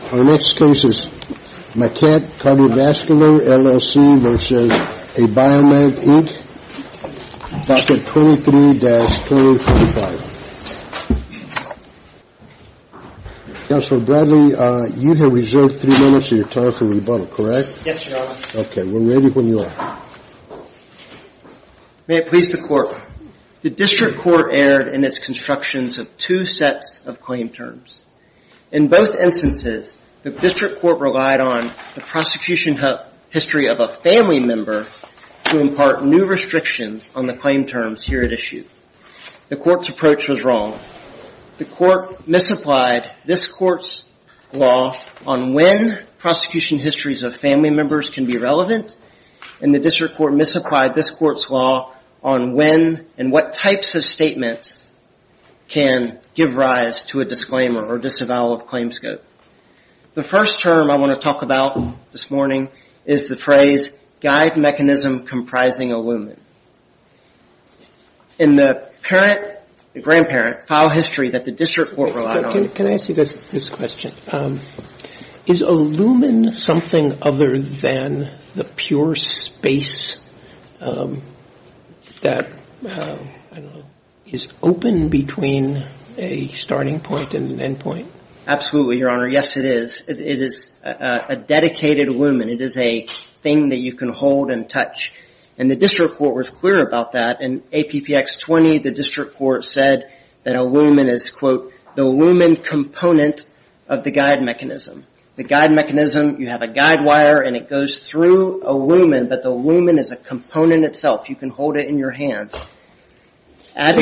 23-25. Counselor Bradley, you have reserved three minutes of your time for rebuttal, correct? Yes, Your Honor. Okay. We're ready when you are. May it please the Court. The district court erred in its constructions of two sets of claim terms. In both instances, the district court relied on the prosecution history of a family member to impart new restrictions on the claim terms here at issue. The court's approach was wrong. The court misapplied this court's law on when prosecution histories of family members can be relevant and the district court misapplied this court's law on when and what types of statements can give rise to a disclaimer or disavowal of claims code. The first term I want to talk about this morning is the phrase guide mechanism comprising a lumen. In the parent, the grandparent, file history that the district court relied on. Can I ask you this question? Is a lumen something other than the pure space that is open between a starting point and an end point? Absolutely, Your Honor. Yes, it is. It is a dedicated lumen. It is a thing that you can hold and touch. And the district court was clear about that. In APPX 20, the district court said that a lumen is, quote, the lumen component of the guide mechanism. The guide mechanism, you have a guide wire and it goes through a lumen, but the lumen is a component itself. You can hold it in your hand. At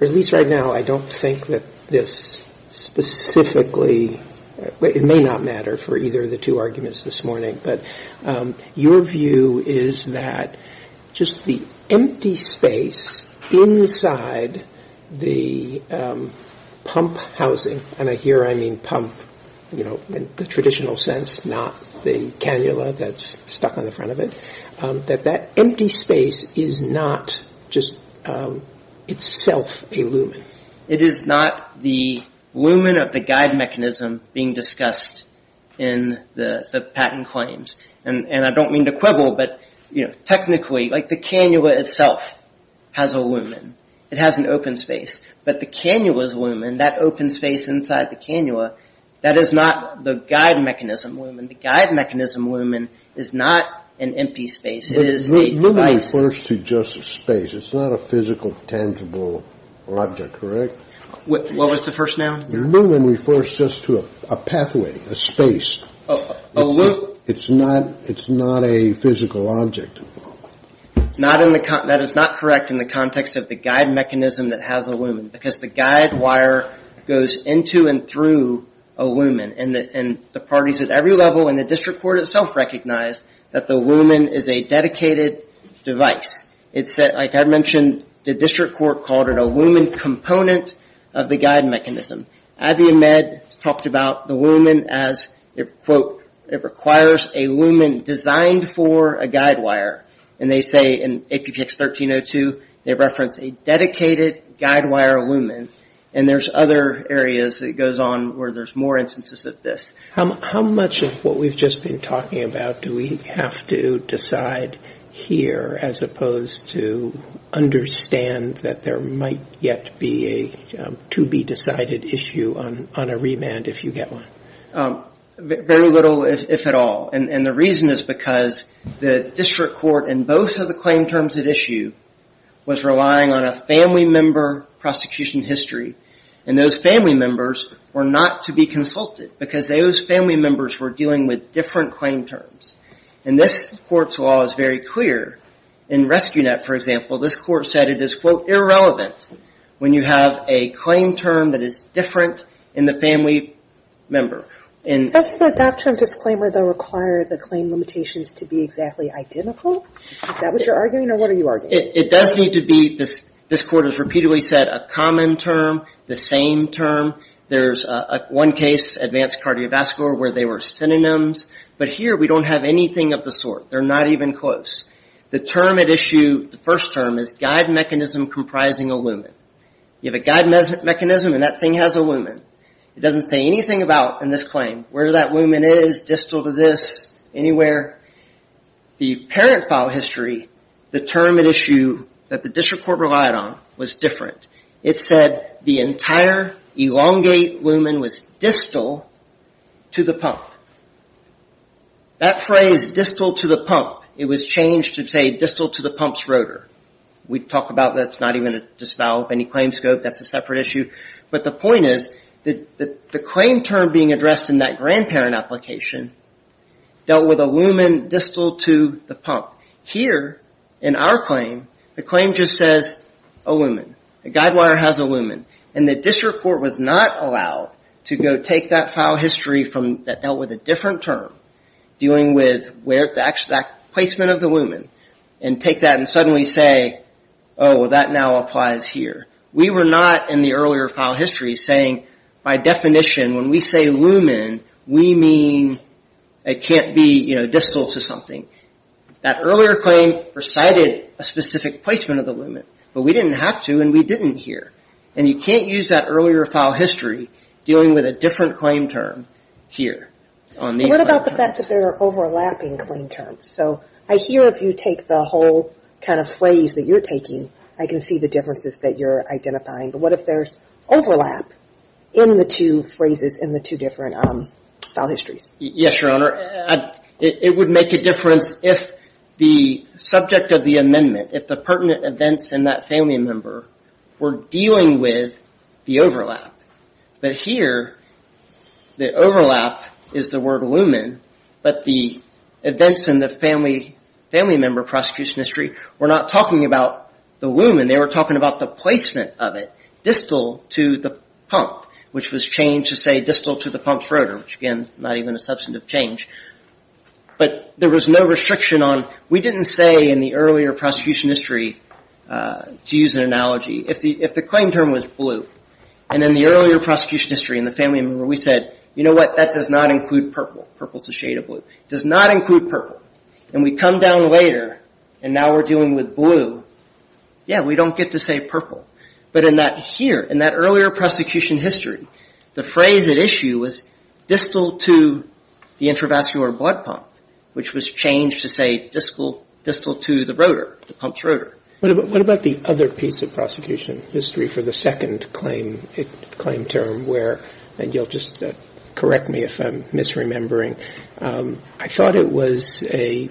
least right now, I don't think that this specifically, it may not matter for either of the two arguments this morning, but your view is that just the empty space inside the pump housing, and here I mean pump in the traditional sense, not the cannula that's stuck on the front of it, that that empty space is not just itself a lumen. It is not the lumen of the guide mechanism being discussed in the patent claims. And I don't mean to quibble, but technically, like the cannula itself has a lumen. It has an open space. But the cannula's lumen, that open space inside the cannula, that is not the guide mechanism lumen. The guide mechanism lumen is not an empty space. It is a device. But lumen refers to just a space. It's not a physical, tangible object, correct? What was the first noun? Lumen refers just to a pathway, a space. It's not a physical object. That is not correct in the context of the guide mechanism that has a lumen, because the guide wire goes into and through a lumen, and the parties at every level in the district court itself recognize that the lumen is a dedicated device. Like I mentioned, the district court called it a lumen component of the guide mechanism. Abby Ahmed talked about the lumen as, quote, it requires a lumen designed for a guide wire. And they say in APPX 1302, they reference a dedicated guide wire lumen. And there's other areas that it goes on where there's more instances of this. How much of what we've just been talking about do we have to decide here, as opposed to understand that there might yet be a to-be-decided issue on a remand, if you get one? Very little, if at all. And the reason is because the district court, in both of the claim terms at issue, was relying on a family member prosecution history, and those family members were not to be consulted, because those family members were dealing with different claim terms. And this court's law is very clear. In RescueNet, for example, this court said it is, quote, irrelevant when you have a claim term that is different in the family member. Does the doctrine disclaimer, though, require the claim limitations to be exactly identical? Is that what you're arguing, or what are you arguing? It does need to be, this court has repeatedly said, a common term, the same term. There's one case, advanced cardiovascular, where they were synonyms. But here we don't have anything of the sort. They're not even close. The term at issue, the first term, is guide mechanism comprising a lumen. You have a guide mechanism, and that thing has a lumen. It doesn't say anything about, in this claim, where that lumen is, distal to this, anywhere. The parent file history, the term at issue that the district court relied on was different. It said the entire elongate lumen was distal to the pump. That phrase, distal to the pump, it was changed to, say, distal to the pump's rotor. We talk about that's not even a disavow of any claim scope. That's a separate issue. But the point is that the claim term being addressed in that grandparent application dealt with a lumen distal to the pump. Here, in our claim, the claim just says a lumen. The guide wire has a lumen. The district court was not allowed to go take that file history that dealt with a different term, dealing with that placement of the lumen, and take that and suddenly say, oh, that now applies here. We were not, in the earlier file history, saying, by definition, when we say lumen, we mean it can't be distal to something. That earlier claim recited a specific placement of the lumen, but we didn't have to and we didn't here. And you can't use that earlier file history dealing with a different claim term here. What about the fact that there are overlapping claim terms? So I hear if you take the whole kind of phrase that you're taking, I can see the differences that you're identifying. But what if there's overlap in the two phrases in the two different file histories? Yes, Your Honor. It would make a difference if the subject of the amendment, if the pertinent events in that family member were dealing with the overlap. But here, the overlap is the word lumen, but the events in the family member prosecution history were not talking about the lumen. They were talking about the placement of it, distal to the pump, which was changed to say distal to the pump's rotor, which again, not even a substantive change. But there was no restriction on, we didn't say in the earlier prosecution history, to use an analogy, if the claim term was blue, and in the earlier prosecution history in the family member, we said, you know what, that does not include purple. Purple is a shade of blue. It does not include purple. And we come down later and now we're dealing with blue. Yeah, we don't get to say purple. But in that here, in that earlier prosecution history, the phrase at issue was distal to the intravascular blood pump, which was changed to say distal to the rotor, the pump's rotor. What about the other piece of prosecution history for the second claim term where, and you'll just correct me if I'm misremembering, I thought it was a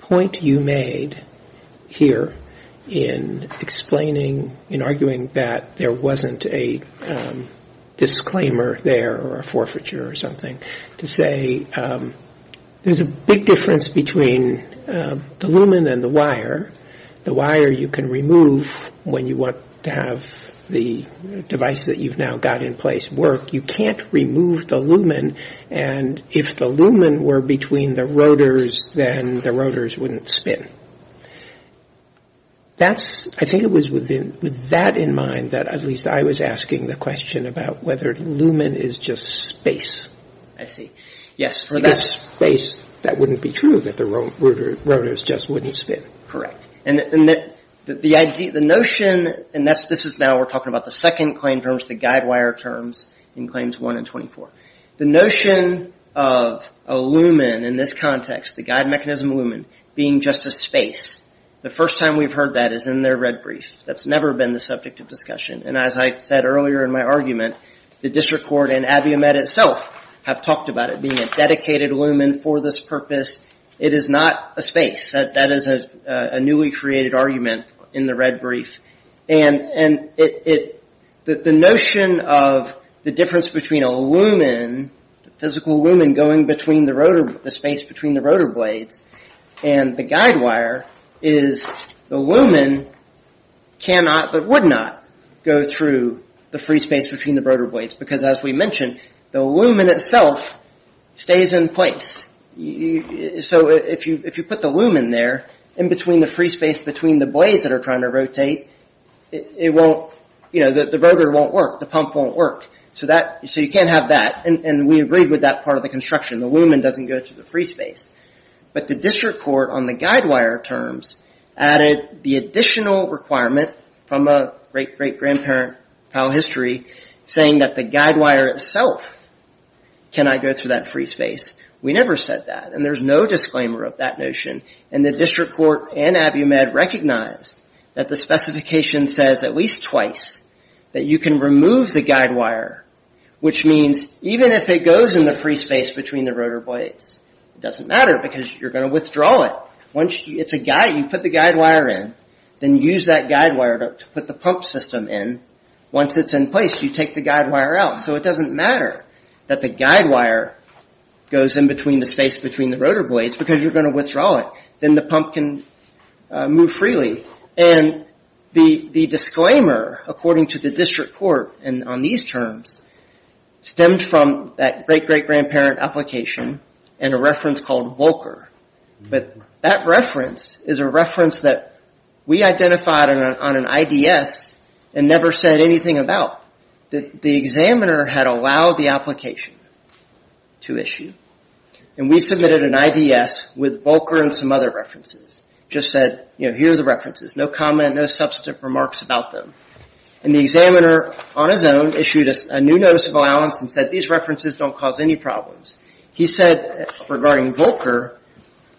point you made here in explaining, in arguing that there wasn't a disclaimer there or a forfeiture or something, to say there's a big difference between the lumen and the wire. The wire you can remove when you want to have the device that you've now got in place work. You can't remove the lumen. And if the lumen were between the rotors, then the rotors wouldn't spin. That's, I think it was with that in mind, that at least I was asking the question about whether lumen is just space. I see. Yes. Because space, that wouldn't be true, that the rotors just wouldn't spin. Correct. And the notion, and this is now we're talking about the second claim terms, the guide wire terms in Claims 1 and 24. The notion of a lumen in this context, the guide mechanism lumen, being just a space, the first time we've heard that is in their red brief. That's never been the subject of discussion. And as I said earlier in my argument, the district court and ABIOMET itself have talked about it being a dedicated lumen for this purpose. It is not a space. That is a newly created argument in the red brief. And the notion of the difference between a lumen, a physical lumen going between the rotor, the space between the rotor blades, and the guide wire is the lumen cannot, but would not go through the free space between the rotor blades. Because as we mentioned, the lumen itself stays in place. So if you put the lumen there, in between the free space between the blades that are trying to rotate, it won't, you know, the rotor won't work. The pump won't work. So you can't have that. And we agreed with that part of the construction. The lumen doesn't go through the free space. But the district court on the guide wire terms added the additional requirement from a great, great grandparent file history saying that the guide wire itself cannot go through that free space. We never said that. And there's no disclaimer of that notion. And the district court and Abiumad recognized that the specification says at least twice that you can remove the guide wire, which means even if it goes in the free space between the rotor blades, it doesn't matter because you're going to withdraw it. Once it's a guide, you put the guide wire in, then use that guide wire to put the pump system in. Once it's in place, you take the guide wire out. So it doesn't matter that the guide wire goes in between the space between the rotor blades because you're going to withdraw it. Then the pump can move freely. And the disclaimer, according to the district court on these terms, stemmed from that great, great grandparent application and a reference called Volcker. But that reference is a reference that we identified on an IDS and never said anything about. The examiner had allowed the application to issue. And we submitted an IDS with Volcker and some other references. Just said, you know, here are the references. No comment, no substantive remarks about them. And the examiner, on his own, issued a new notice of allowance and said these references don't cause any problems. He said, regarding Volcker,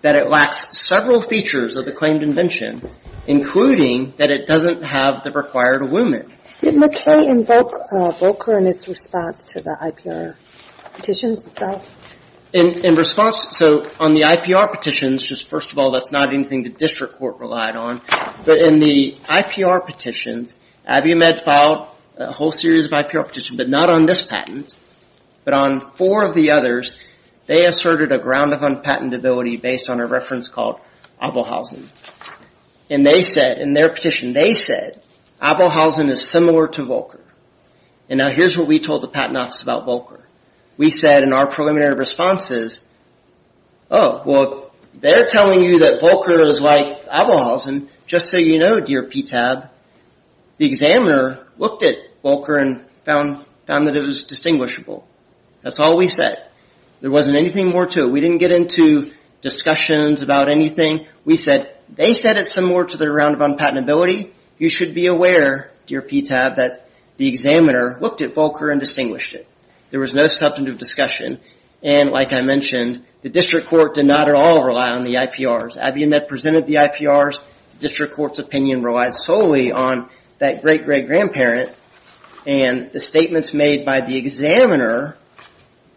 that it lacks several features of the claimed invention, including that it doesn't have the required awoment. Did McKay invoke Volcker in its response to the IPR petitions itself? In response, so on the IPR petitions, just first of all, that's not anything the district court relied on. But in the IPR petitions, Abiumed filed a whole series of IPR petitions, but not on this patent. But on four of the others, they asserted a ground of unpatentability based on a reference called Abelhausen. And they said in their petition, they said Abelhausen is similar to Volcker. And now here's what we told the patent office about Volcker. We said in our preliminary responses, oh, well, they're telling you that Volcker is like Abelhausen. Just so you know, dear PTAB, the examiner looked at Volcker and found that it was distinguishable. That's all we said. There wasn't anything more to it. We didn't get into discussions about anything. We said they said it's similar to the ground of unpatentability. You should be aware, dear PTAB, that the examiner looked at Volcker and distinguished it. There was no substantive discussion. And like I mentioned, the district court did not at all rely on the IPRs. Abiumed presented the IPRs. The district court's opinion relied solely on that great-great-grandparent and the statements made by the examiner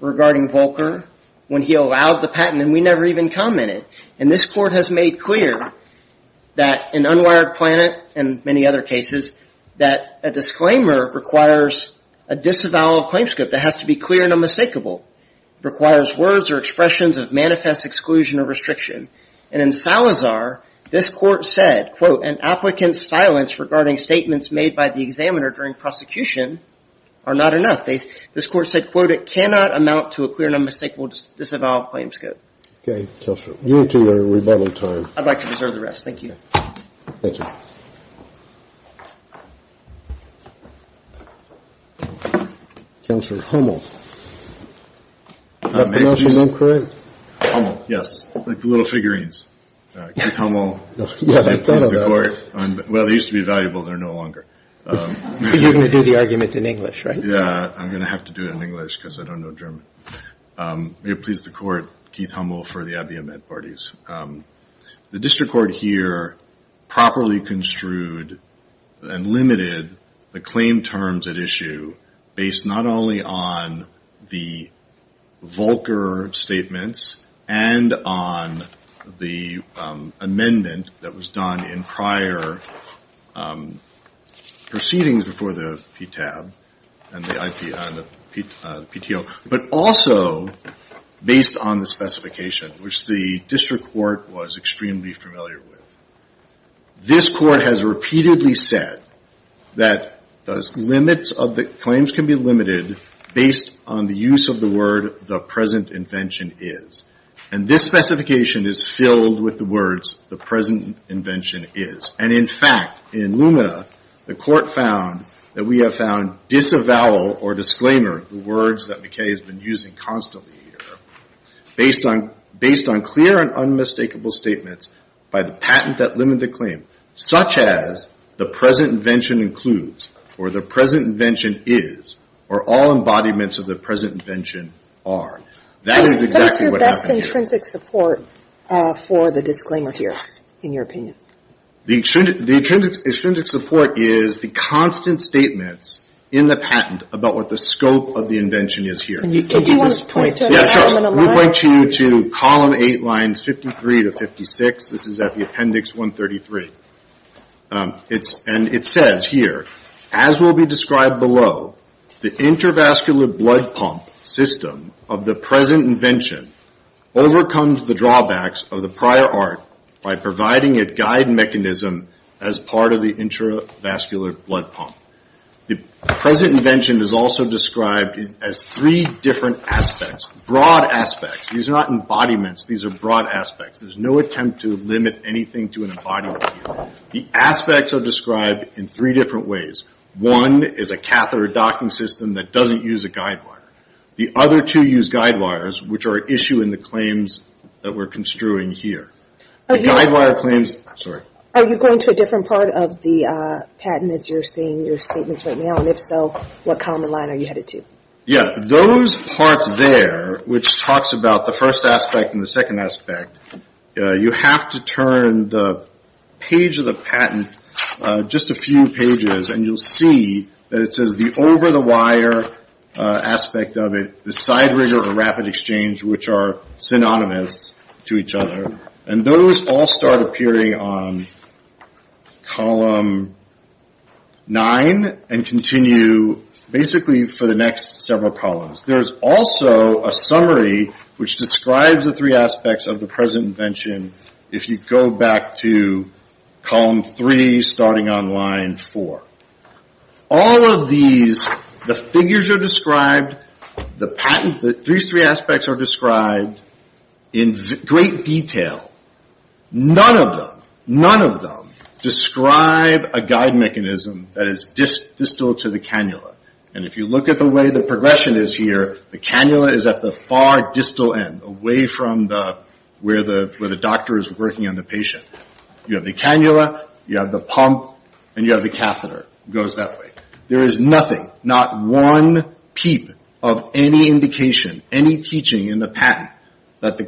regarding Volcker when he allowed the patent, and we never even commented. And this court has made clear that in Unwired Planet and many other cases that a disclaimer requires a disavowal of claims code that has to be clear and unmistakable. It requires words or expressions of manifest exclusion or restriction. And in Salazar, this court said, quote, an applicant's silence regarding statements made by the examiner during prosecution are not enough. This court said, quote, it cannot amount to a clear and unmistakable disavowal of claims code. Okay. You two are at rebuttal time. I'd like to reserve the rest. Thank you. Thank you. Counselor Hummel. Did I pronounce your name correct? Hummel, yes. Like the little figurines. Keith Hummel. Yeah, I thought of that. Well, they used to be valuable. They're no longer. You're going to do the arguments in English, right? Yeah. I'm going to have to do it in English because I don't know German. May it please the court, Keith Hummel for the IBM Ed Parties. The district court here properly construed and limited the claim terms at issue based not only on the Volcker statements and on the amendment that was done in prior proceedings before the PTAB and the PTO, but also based on the specification, which the district court was extremely familiar with. This court has repeatedly said that the limits of the claims can be limited based on the use of the word the present invention is. And this specification is filled with the words the present invention is. And, in fact, in Lumina, the court found that we have found disavowal or disclaimer, the words that McKay has been using constantly here, based on clear and unmistakable statements by the patent that limited the claim, such as the present invention includes or the present invention is or all embodiments of the present invention are. That is exactly what happened here. What is your best intrinsic support for the disclaimer here in your opinion? The intrinsic support is the constant statements in the patent about what the scope of the invention is here. Can you point to an example in a moment? Yeah, sure. Let me point you to column 8, lines 53 to 56. This is at the appendix 133. And it says here, as will be described below, the intervascular blood pump system of the present invention overcomes the drawbacks of the prior art by providing a guide mechanism as part of the intervascular blood pump. The present invention is also described as three different aspects, broad aspects. These are not embodiments. These are broad aspects. There's no attempt to limit anything to an embodiment here. The aspects are described in three different ways. One is a catheter docking system that doesn't use a guide wire. The other two use guide wires, which are an issue in the claims that we're construing here. The guide wire claims, sorry. Are you going to a different part of the patent as you're seeing your statements right now? And if so, what column and line are you headed to? Yeah, those parts there, which talks about the first aspect and the second aspect, you have to turn the page of the patent just a few pages, and you'll see that it says the over-the-wire aspect of it, the side rigor of rapid exchange, which are synonymous to each other, and those all start appearing on column nine and continue basically for the next several columns. There's also a summary which describes the three aspects of the present invention if you go back to column three starting on line four. All of these, the figures are described, the patent, the three aspects are described in great detail. None of them, none of them describe a guide mechanism that is distal to the cannula. And if you look at the way the progression is here, the cannula is at the far distal end, away from where the doctor is working on the patient. You have the cannula, you have the pump, and you have the catheter. It goes that way. There is nothing, not one peep of any indication, any teaching in the patent, that the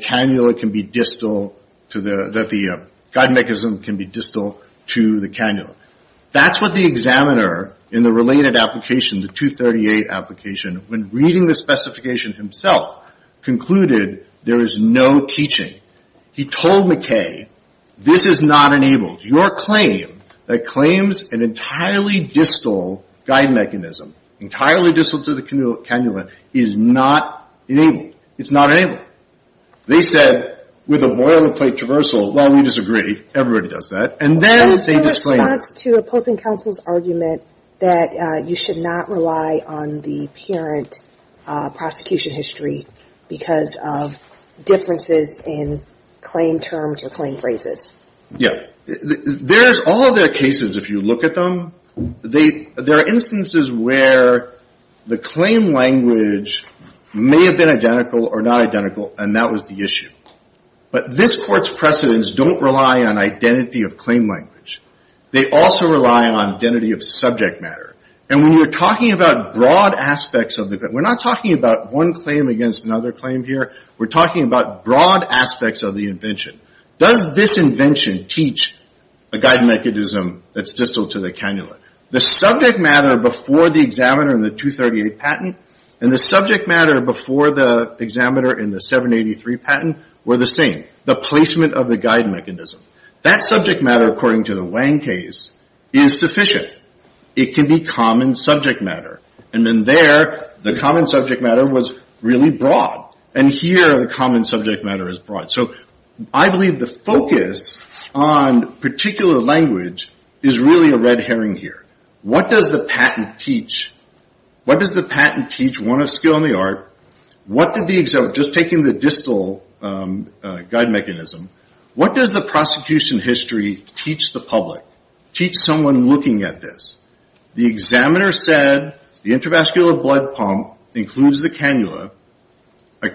guide mechanism can be distal to the cannula. That's what the examiner in the related application, the 238 application, when reading the specification himself, concluded there is no teaching. He told McKay, this is not enabled. Your claim that claims an entirely distal guide mechanism, entirely distal to the cannula, is not enabled. It's not enabled. They said with a boilerplate traversal, well, we disagree. Everybody does that. And then they disclaimed it. There's no response to opposing counsel's argument that you should not rely on the parent prosecution history because of differences in claim terms or claim phrases. Yeah. There's all of their cases, if you look at them. There are instances where the claim language may have been identical or not identical, and that was the issue. But this Court's precedents don't rely on identity of claim language. They also rely on identity of subject matter. And when you're talking about broad aspects of the claim, we're not talking about one claim against another claim here. We're talking about broad aspects of the invention. Does this invention teach a guide mechanism that's distal to the cannula? The subject matter before the examiner in the 238 patent and the subject matter before the examiner in the 783 patent were the same, the placement of the guide mechanism. That subject matter, according to the Wang case, is sufficient. It can be common subject matter. And then there, the common subject matter was really broad. And here, the common subject matter is broad. So I believe the focus on particular language is really a red herring here. What does the patent teach? What does the patent teach, one of skill and the art? Just taking the distal guide mechanism, what does the prosecution history teach the public, teach someone looking at this? The examiner said the intravascular blood pump includes the cannula. A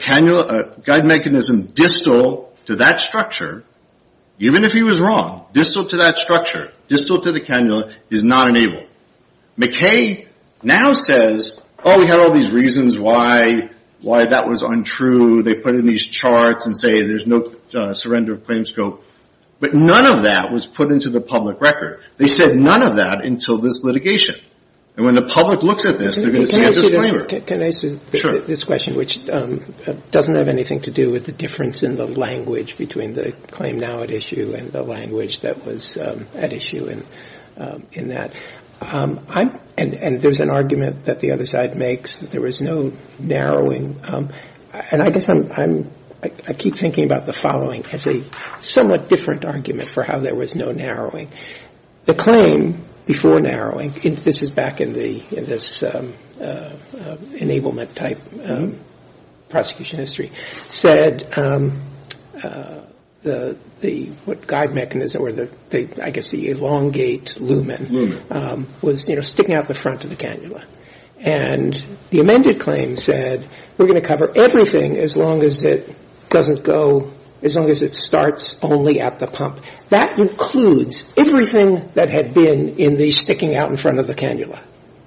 guide mechanism distal to that structure, even if he was wrong, distal to that structure, distal to the cannula, is not enabled. McKay now says, oh, we had all these reasons why that was untrue. They put in these charts and say there's no surrender of claims scope. But none of that was put into the public record. They said none of that until this litigation. And when the public looks at this, they're going to say it's a disclaimer. Can I say this question, which doesn't have anything to do with the difference in the language between the claim now at issue and the language that was at issue in that. And there's an argument that the other side makes that there was no narrowing. And I guess I keep thinking about the following as a somewhat different argument for how there was no narrowing. The claim before narrowing, this is back in this enablement type prosecution history, said the guide mechanism or I guess the elongate lumen was sticking out the front of the cannula. And the amended claim said we're going to cover everything as long as it doesn't go, as long as it starts only at the pump. That includes everything that had been in the sticking out in front of the cannula.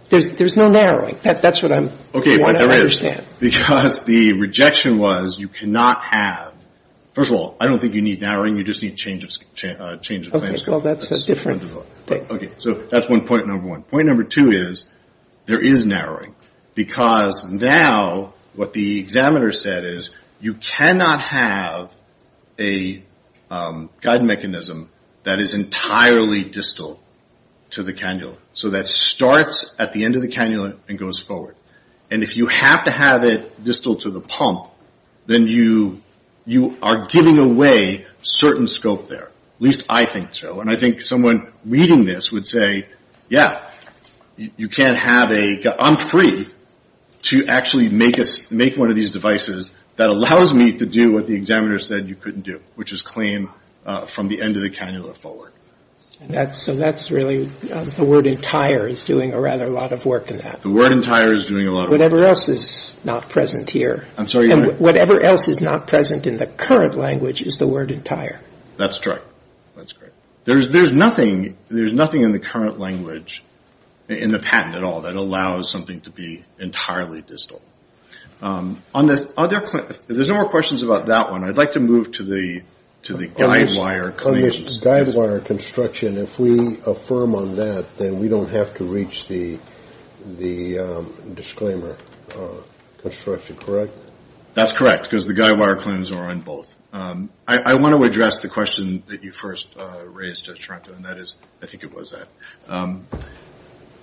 There's no narrowing. That's what I want to understand. Because the rejection was you cannot have, first of all, I don't think you need narrowing. You just need change of claims scope. Okay. Well, that's a different thing. Okay. So that's one point number one. Point number two is there is narrowing. Because now what the examiner said is you cannot have a guide mechanism that is entirely distal to the cannula. So that starts at the end of the cannula and goes forward. And if you have to have it distal to the pump, then you are giving away certain scope there. At least I think so. And I think someone reading this would say, yeah, you can't have a guide. I'm free to actually make one of these devices that allows me to do what the examiner said you couldn't do, which is claim from the end of the cannula forward. So that's really the word entire is doing a rather lot of work in that. The word entire is doing a lot of work. Whatever else is not present here. I'm sorry. Whatever else is not present in the current language is the word entire. That's correct. There's nothing in the current language in the patent at all that allows something to be entirely distal. There's no more questions about that one. I'd like to move to the guide wire claims. Guide wire construction, if we affirm on that, then we don't have to reach the disclaimer construction, correct? That's correct. Because the guide wire claims are on both. I want to address the question that you first raised, Judge Taranto, and that is, I think it was that.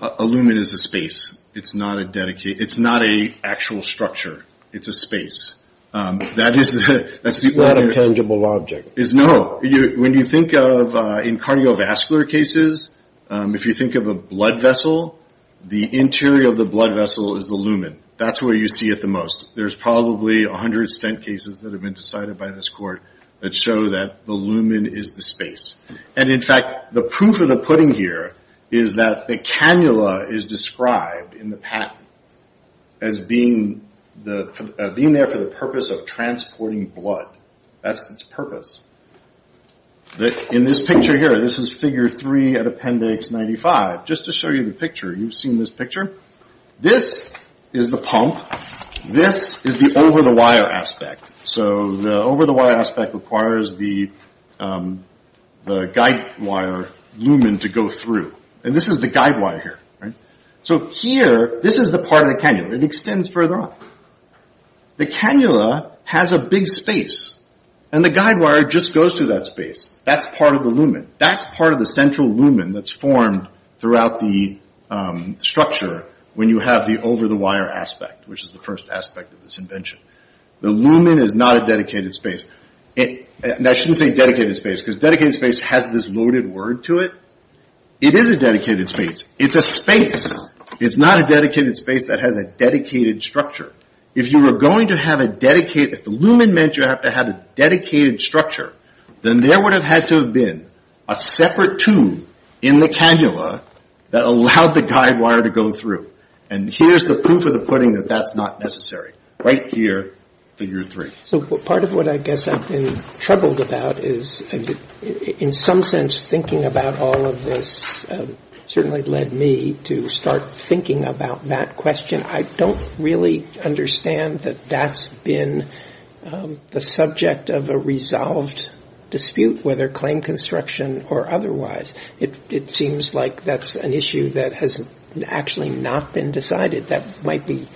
A lumen is a space. It's not an actual structure. It's a space. It's not a tangible object. No. When you think of in cardiovascular cases, if you think of a blood vessel, the interior of the blood vessel is the lumen. That's where you see it the most. There's probably 100 stent cases that have been decided by this court that show that the lumen is the space. And, in fact, the proof of the pudding here is that the cannula is described in the patent as being there for the purpose of transporting blood. That's its purpose. In this picture here, this is Figure 3 at Appendix 95. Just to show you the picture, you've seen this picture. This is the pump. This is the over-the-wire aspect. So the over-the-wire aspect requires the guide wire lumen to go through. And this is the guide wire here. So here, this is the part of the cannula. It extends further on. The cannula has a big space, and the guide wire just goes through that space. That's part of the lumen. That's part of the central lumen that's formed throughout the structure when you have the over-the-wire aspect, which is the first aspect of this invention. The lumen is not a dedicated space. Now, I shouldn't say dedicated space because dedicated space has this loaded word to it. It is a dedicated space. It's a space. It's not a dedicated space that has a dedicated structure. If you were going to have a dedicated – if the lumen meant you have to have a dedicated structure, then there would have had to have been a separate tube in the cannula that allowed the guide wire to go through. And here's the proof of the pudding that that's not necessary, right here, Figure 3. So part of what I guess I've been troubled about is, in some sense, thinking about all of this certainly led me to start thinking about that question. I don't really understand that that's been the subject of a resolved dispute, whether claim construction or otherwise. It seems like that's an issue that has actually not been decided. That might be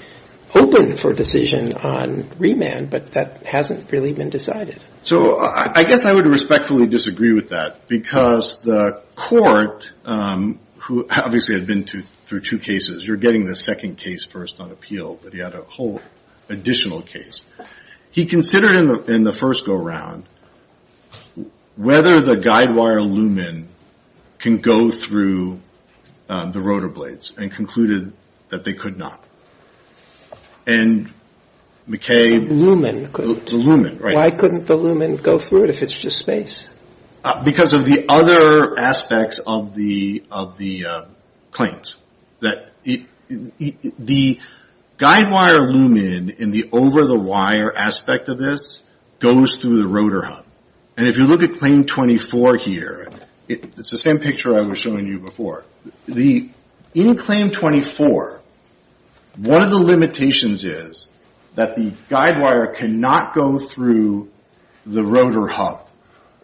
open for decision on remand, but that hasn't really been decided. So I guess I would respectfully disagree with that because the court, who obviously had been through two cases. You're getting the second case first on appeal, but he had a whole additional case. He considered in the first go-around whether the guide wire lumen can go through the rotor blades and concluded that they could not. And McCabe – The lumen, right. Why couldn't the lumen go through it if it's just space? Because of the other aspects of the claims. The guide wire lumen in the over-the-wire aspect of this goes through the rotor hub. And if you look at Claim 24 here, it's the same picture I was showing you before. In Claim 24, one of the limitations is that the guide wire cannot go through the rotor hub.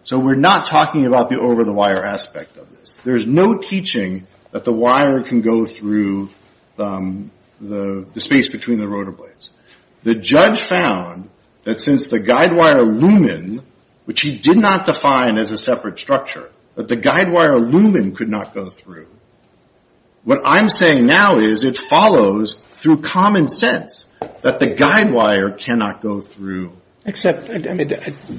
So we're not talking about the over-the-wire aspect of this. There's no teaching that the wire can go through the space between the rotor blades. The judge found that since the guide wire lumen, which he did not define as a separate structure, that the guide wire lumen could not go through. What I'm saying now is it follows through common sense that the guide wire cannot go through. Except, I mean,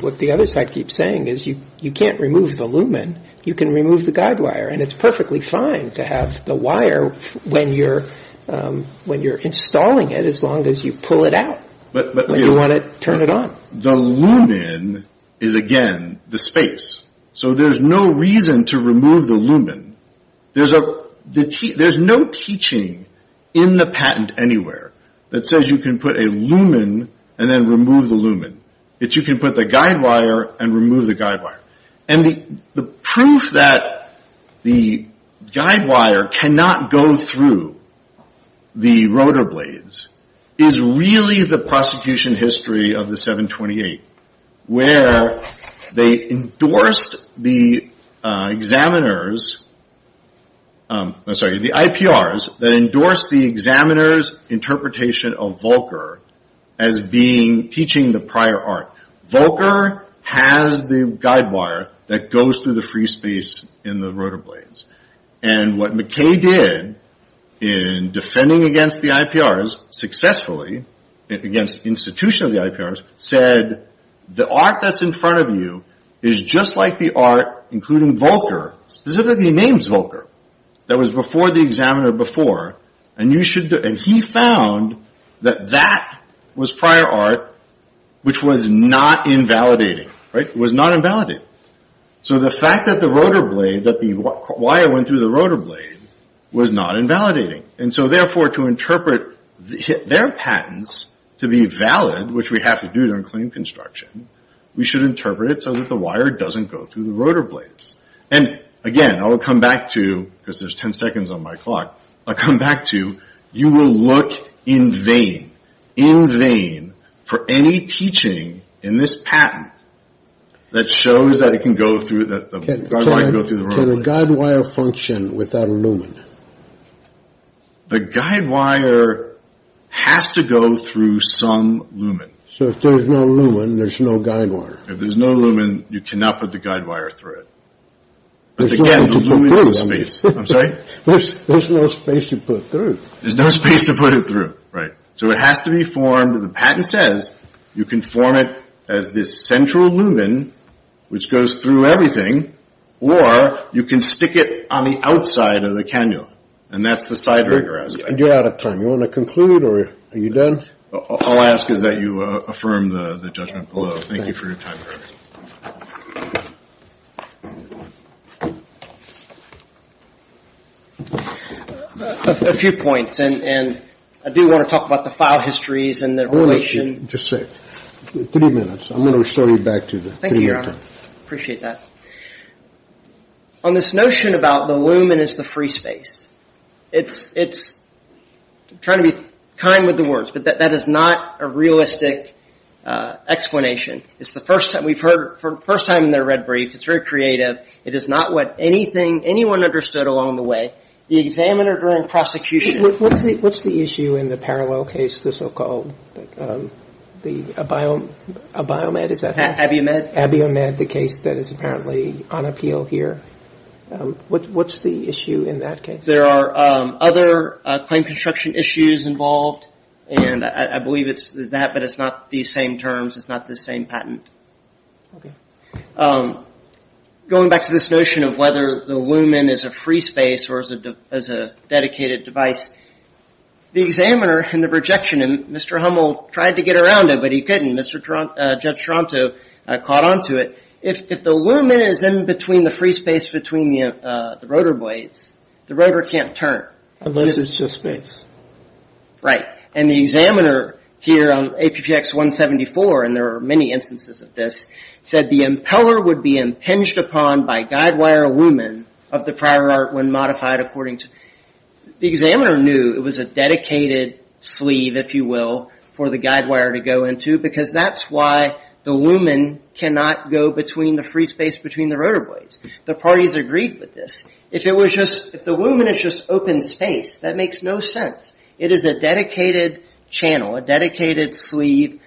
what the other side keeps saying is you can't remove the lumen. You can remove the guide wire. And it's perfectly fine to have the wire when you're installing it as long as you pull it out when you want to turn it on. The lumen is, again, the space. So there's no reason to remove the lumen. There's no teaching in the patent anywhere that says you can put a lumen and then remove the lumen. It's you can put the guide wire and remove the guide wire. And the proof that the guide wire cannot go through the rotor blades is really the prosecution history of the 728, where they endorsed the examiner's, I'm sorry, the IPRs that endorsed the examiner's interpretation of Volcker as being, teaching the prior art. Volcker has the guide wire that goes through the free space in the rotor blades. And what McKay did in defending against the IPRs successfully, against the institution of the IPRs, said the art that's in front of you is just like the art including Volcker, specifically named Volcker, that was before the examiner before. And he found that that was prior art, which was not invalidating. Right? It was not invalidating. So the fact that the rotor blade, that the wire went through the rotor blade, was not invalidating. And so, therefore, to interpret their patents to be valid, which we have to do during claim construction, we should interpret it so that the wire doesn't go through the rotor blades. And, again, I'll come back to, because there's 10 seconds on my clock, I'll come back to you will look in vain, in vain, for any teaching in this patent that shows that it can go through, that the wire can go through the rotor blades. Can a guide wire function without a lumen? The guide wire has to go through some lumen. So if there's no lumen, there's no guide wire. If there's no lumen, you cannot put the guide wire through it. But, again, the lumen is a space. I'm sorry? There's no space to put it through. There's no space to put it through. Right. So it has to be formed. The patent says you can form it as this central lumen, which goes through everything, or you can stick it on the outside of the cannula. And that's the side rigor. You're out of time. You want to conclude, or are you done? All I ask is that you affirm the judgment below. Thank you for your time. A few points. And I do want to talk about the file histories and the relation. Just a second. Three minutes. I'm going to restore you back to your time. Thank you, Your Honor. I appreciate that. On this notion about the lumen is the free space, it's trying to be kind with the words, but that is not a realistic explanation. It's the first time we've heard it for the first time in the red brief. It's very creative. It is not what anyone understood along the way. The examiner during prosecution. What's the issue in the parallel case, the so-called, the BioMed, is that how it's called? AbioMed. AbioMed, the case that is apparently on appeal here. What's the issue in that case? There are other claim construction issues involved, and I believe it's that, but it's not the same terms. It's not the same patent. Going back to this notion of whether the lumen is a free space or is a dedicated device, the examiner in the rejection, and Mr. Hummel tried to get around it, but he couldn't. Judge Toronto caught on to it. If the lumen is in between the free space between the rotor blades, the rotor can't turn. Unless it's just space. Right. The examiner here on APPX 174, and there are many instances of this, said the impeller would be impinged upon by guide wire lumen of the prior art when modified according to. The examiner knew it was a dedicated sleeve, if you will, for the guide wire to go into, because that's why the lumen cannot go between the free space between the rotor blades. The parties agreed with this. If the lumen is just open space, that makes no sense. It is a dedicated channel, a dedicated sleeve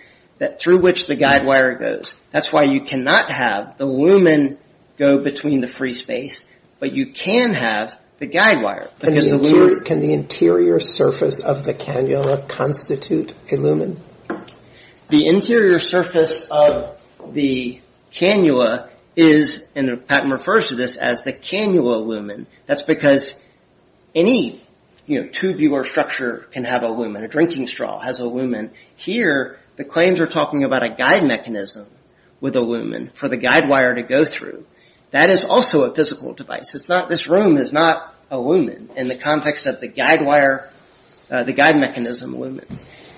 through which the guide wire goes. That's why you cannot have the lumen go between the free space, but you can have the guide wire. Can the interior surface of the cannula constitute a lumen? The interior surface of the cannula is, and the patent refers to this as the cannula lumen. That's because any tubular structure can have a lumen. A drinking straw has a lumen. Here, the claims are talking about a guide mechanism with a lumen for the guide wire to go through. That is also a physical device. This room is not a lumen in the context of the guide wire, the guide mechanism lumen.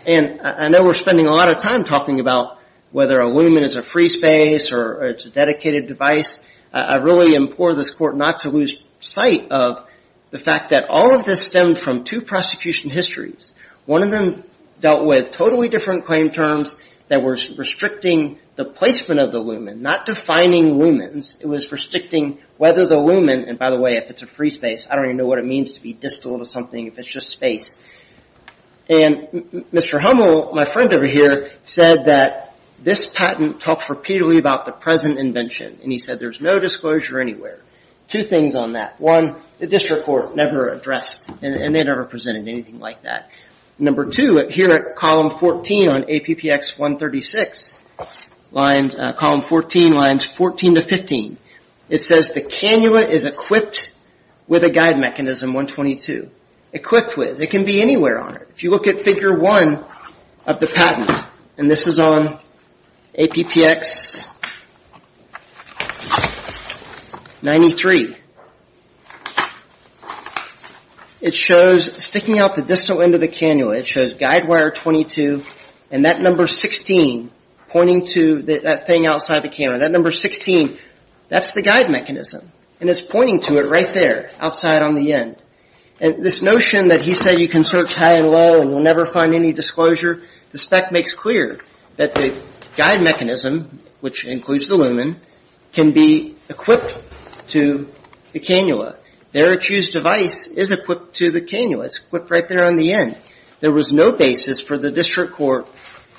I know we're spending a lot of time talking about whether a lumen is a free space or it's a dedicated device. I really implore this court not to lose sight of the fact that all of this stemmed from two prosecution histories. One of them dealt with totally different claim terms that were restricting the placement of the lumen, not defining lumens. It was restricting whether the lumen, and by the way, if it's a free space, I don't even know what it means to be distal to something if it's just space. Mr. Hummel, my friend over here, said that this patent talks repeatedly about the present invention. He said there's no disclosure anywhere. Two things on that. One, the district court never addressed, and they never presented anything like that. Number two, here at column 14 on APPX 136, column 14, lines 14 to 15, it says the cannula is equipped with a guide mechanism 122. Equipped with, it can be anywhere on it. If you look at figure one of the patent, and this is on APPX 93, it shows sticking out the distal end of the cannula, it shows guide wire 22, and that number 16 pointing to that thing outside the cannula. That number 16, that's the guide mechanism, and it's pointing to it right there outside on the end. And this notion that he said you can search high and low and you'll never find any disclosure, the spec makes clear that the guide mechanism, which includes the lumen, can be equipped to the cannula. There it's used device is equipped to the cannula. It's equipped right there on the end. There was no basis for the district court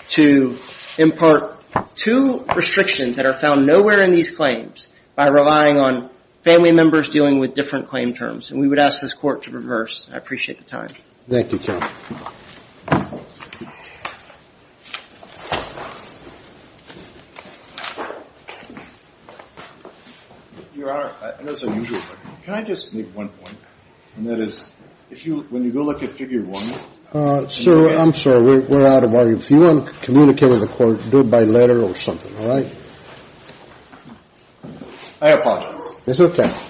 to impart two restrictions that are found nowhere in these claims by relying on family members dealing with different claim terms. And we would ask this court to reverse. I appreciate the time. Thank you, counsel. Your Honor, I know it's unusual, but can I just make one point? And that is, if you, when you go look at figure one. Sir, I'm sorry, we're out of audio. If you want to communicate with the court, do it by letter or something, all right? I apologize. It's okay.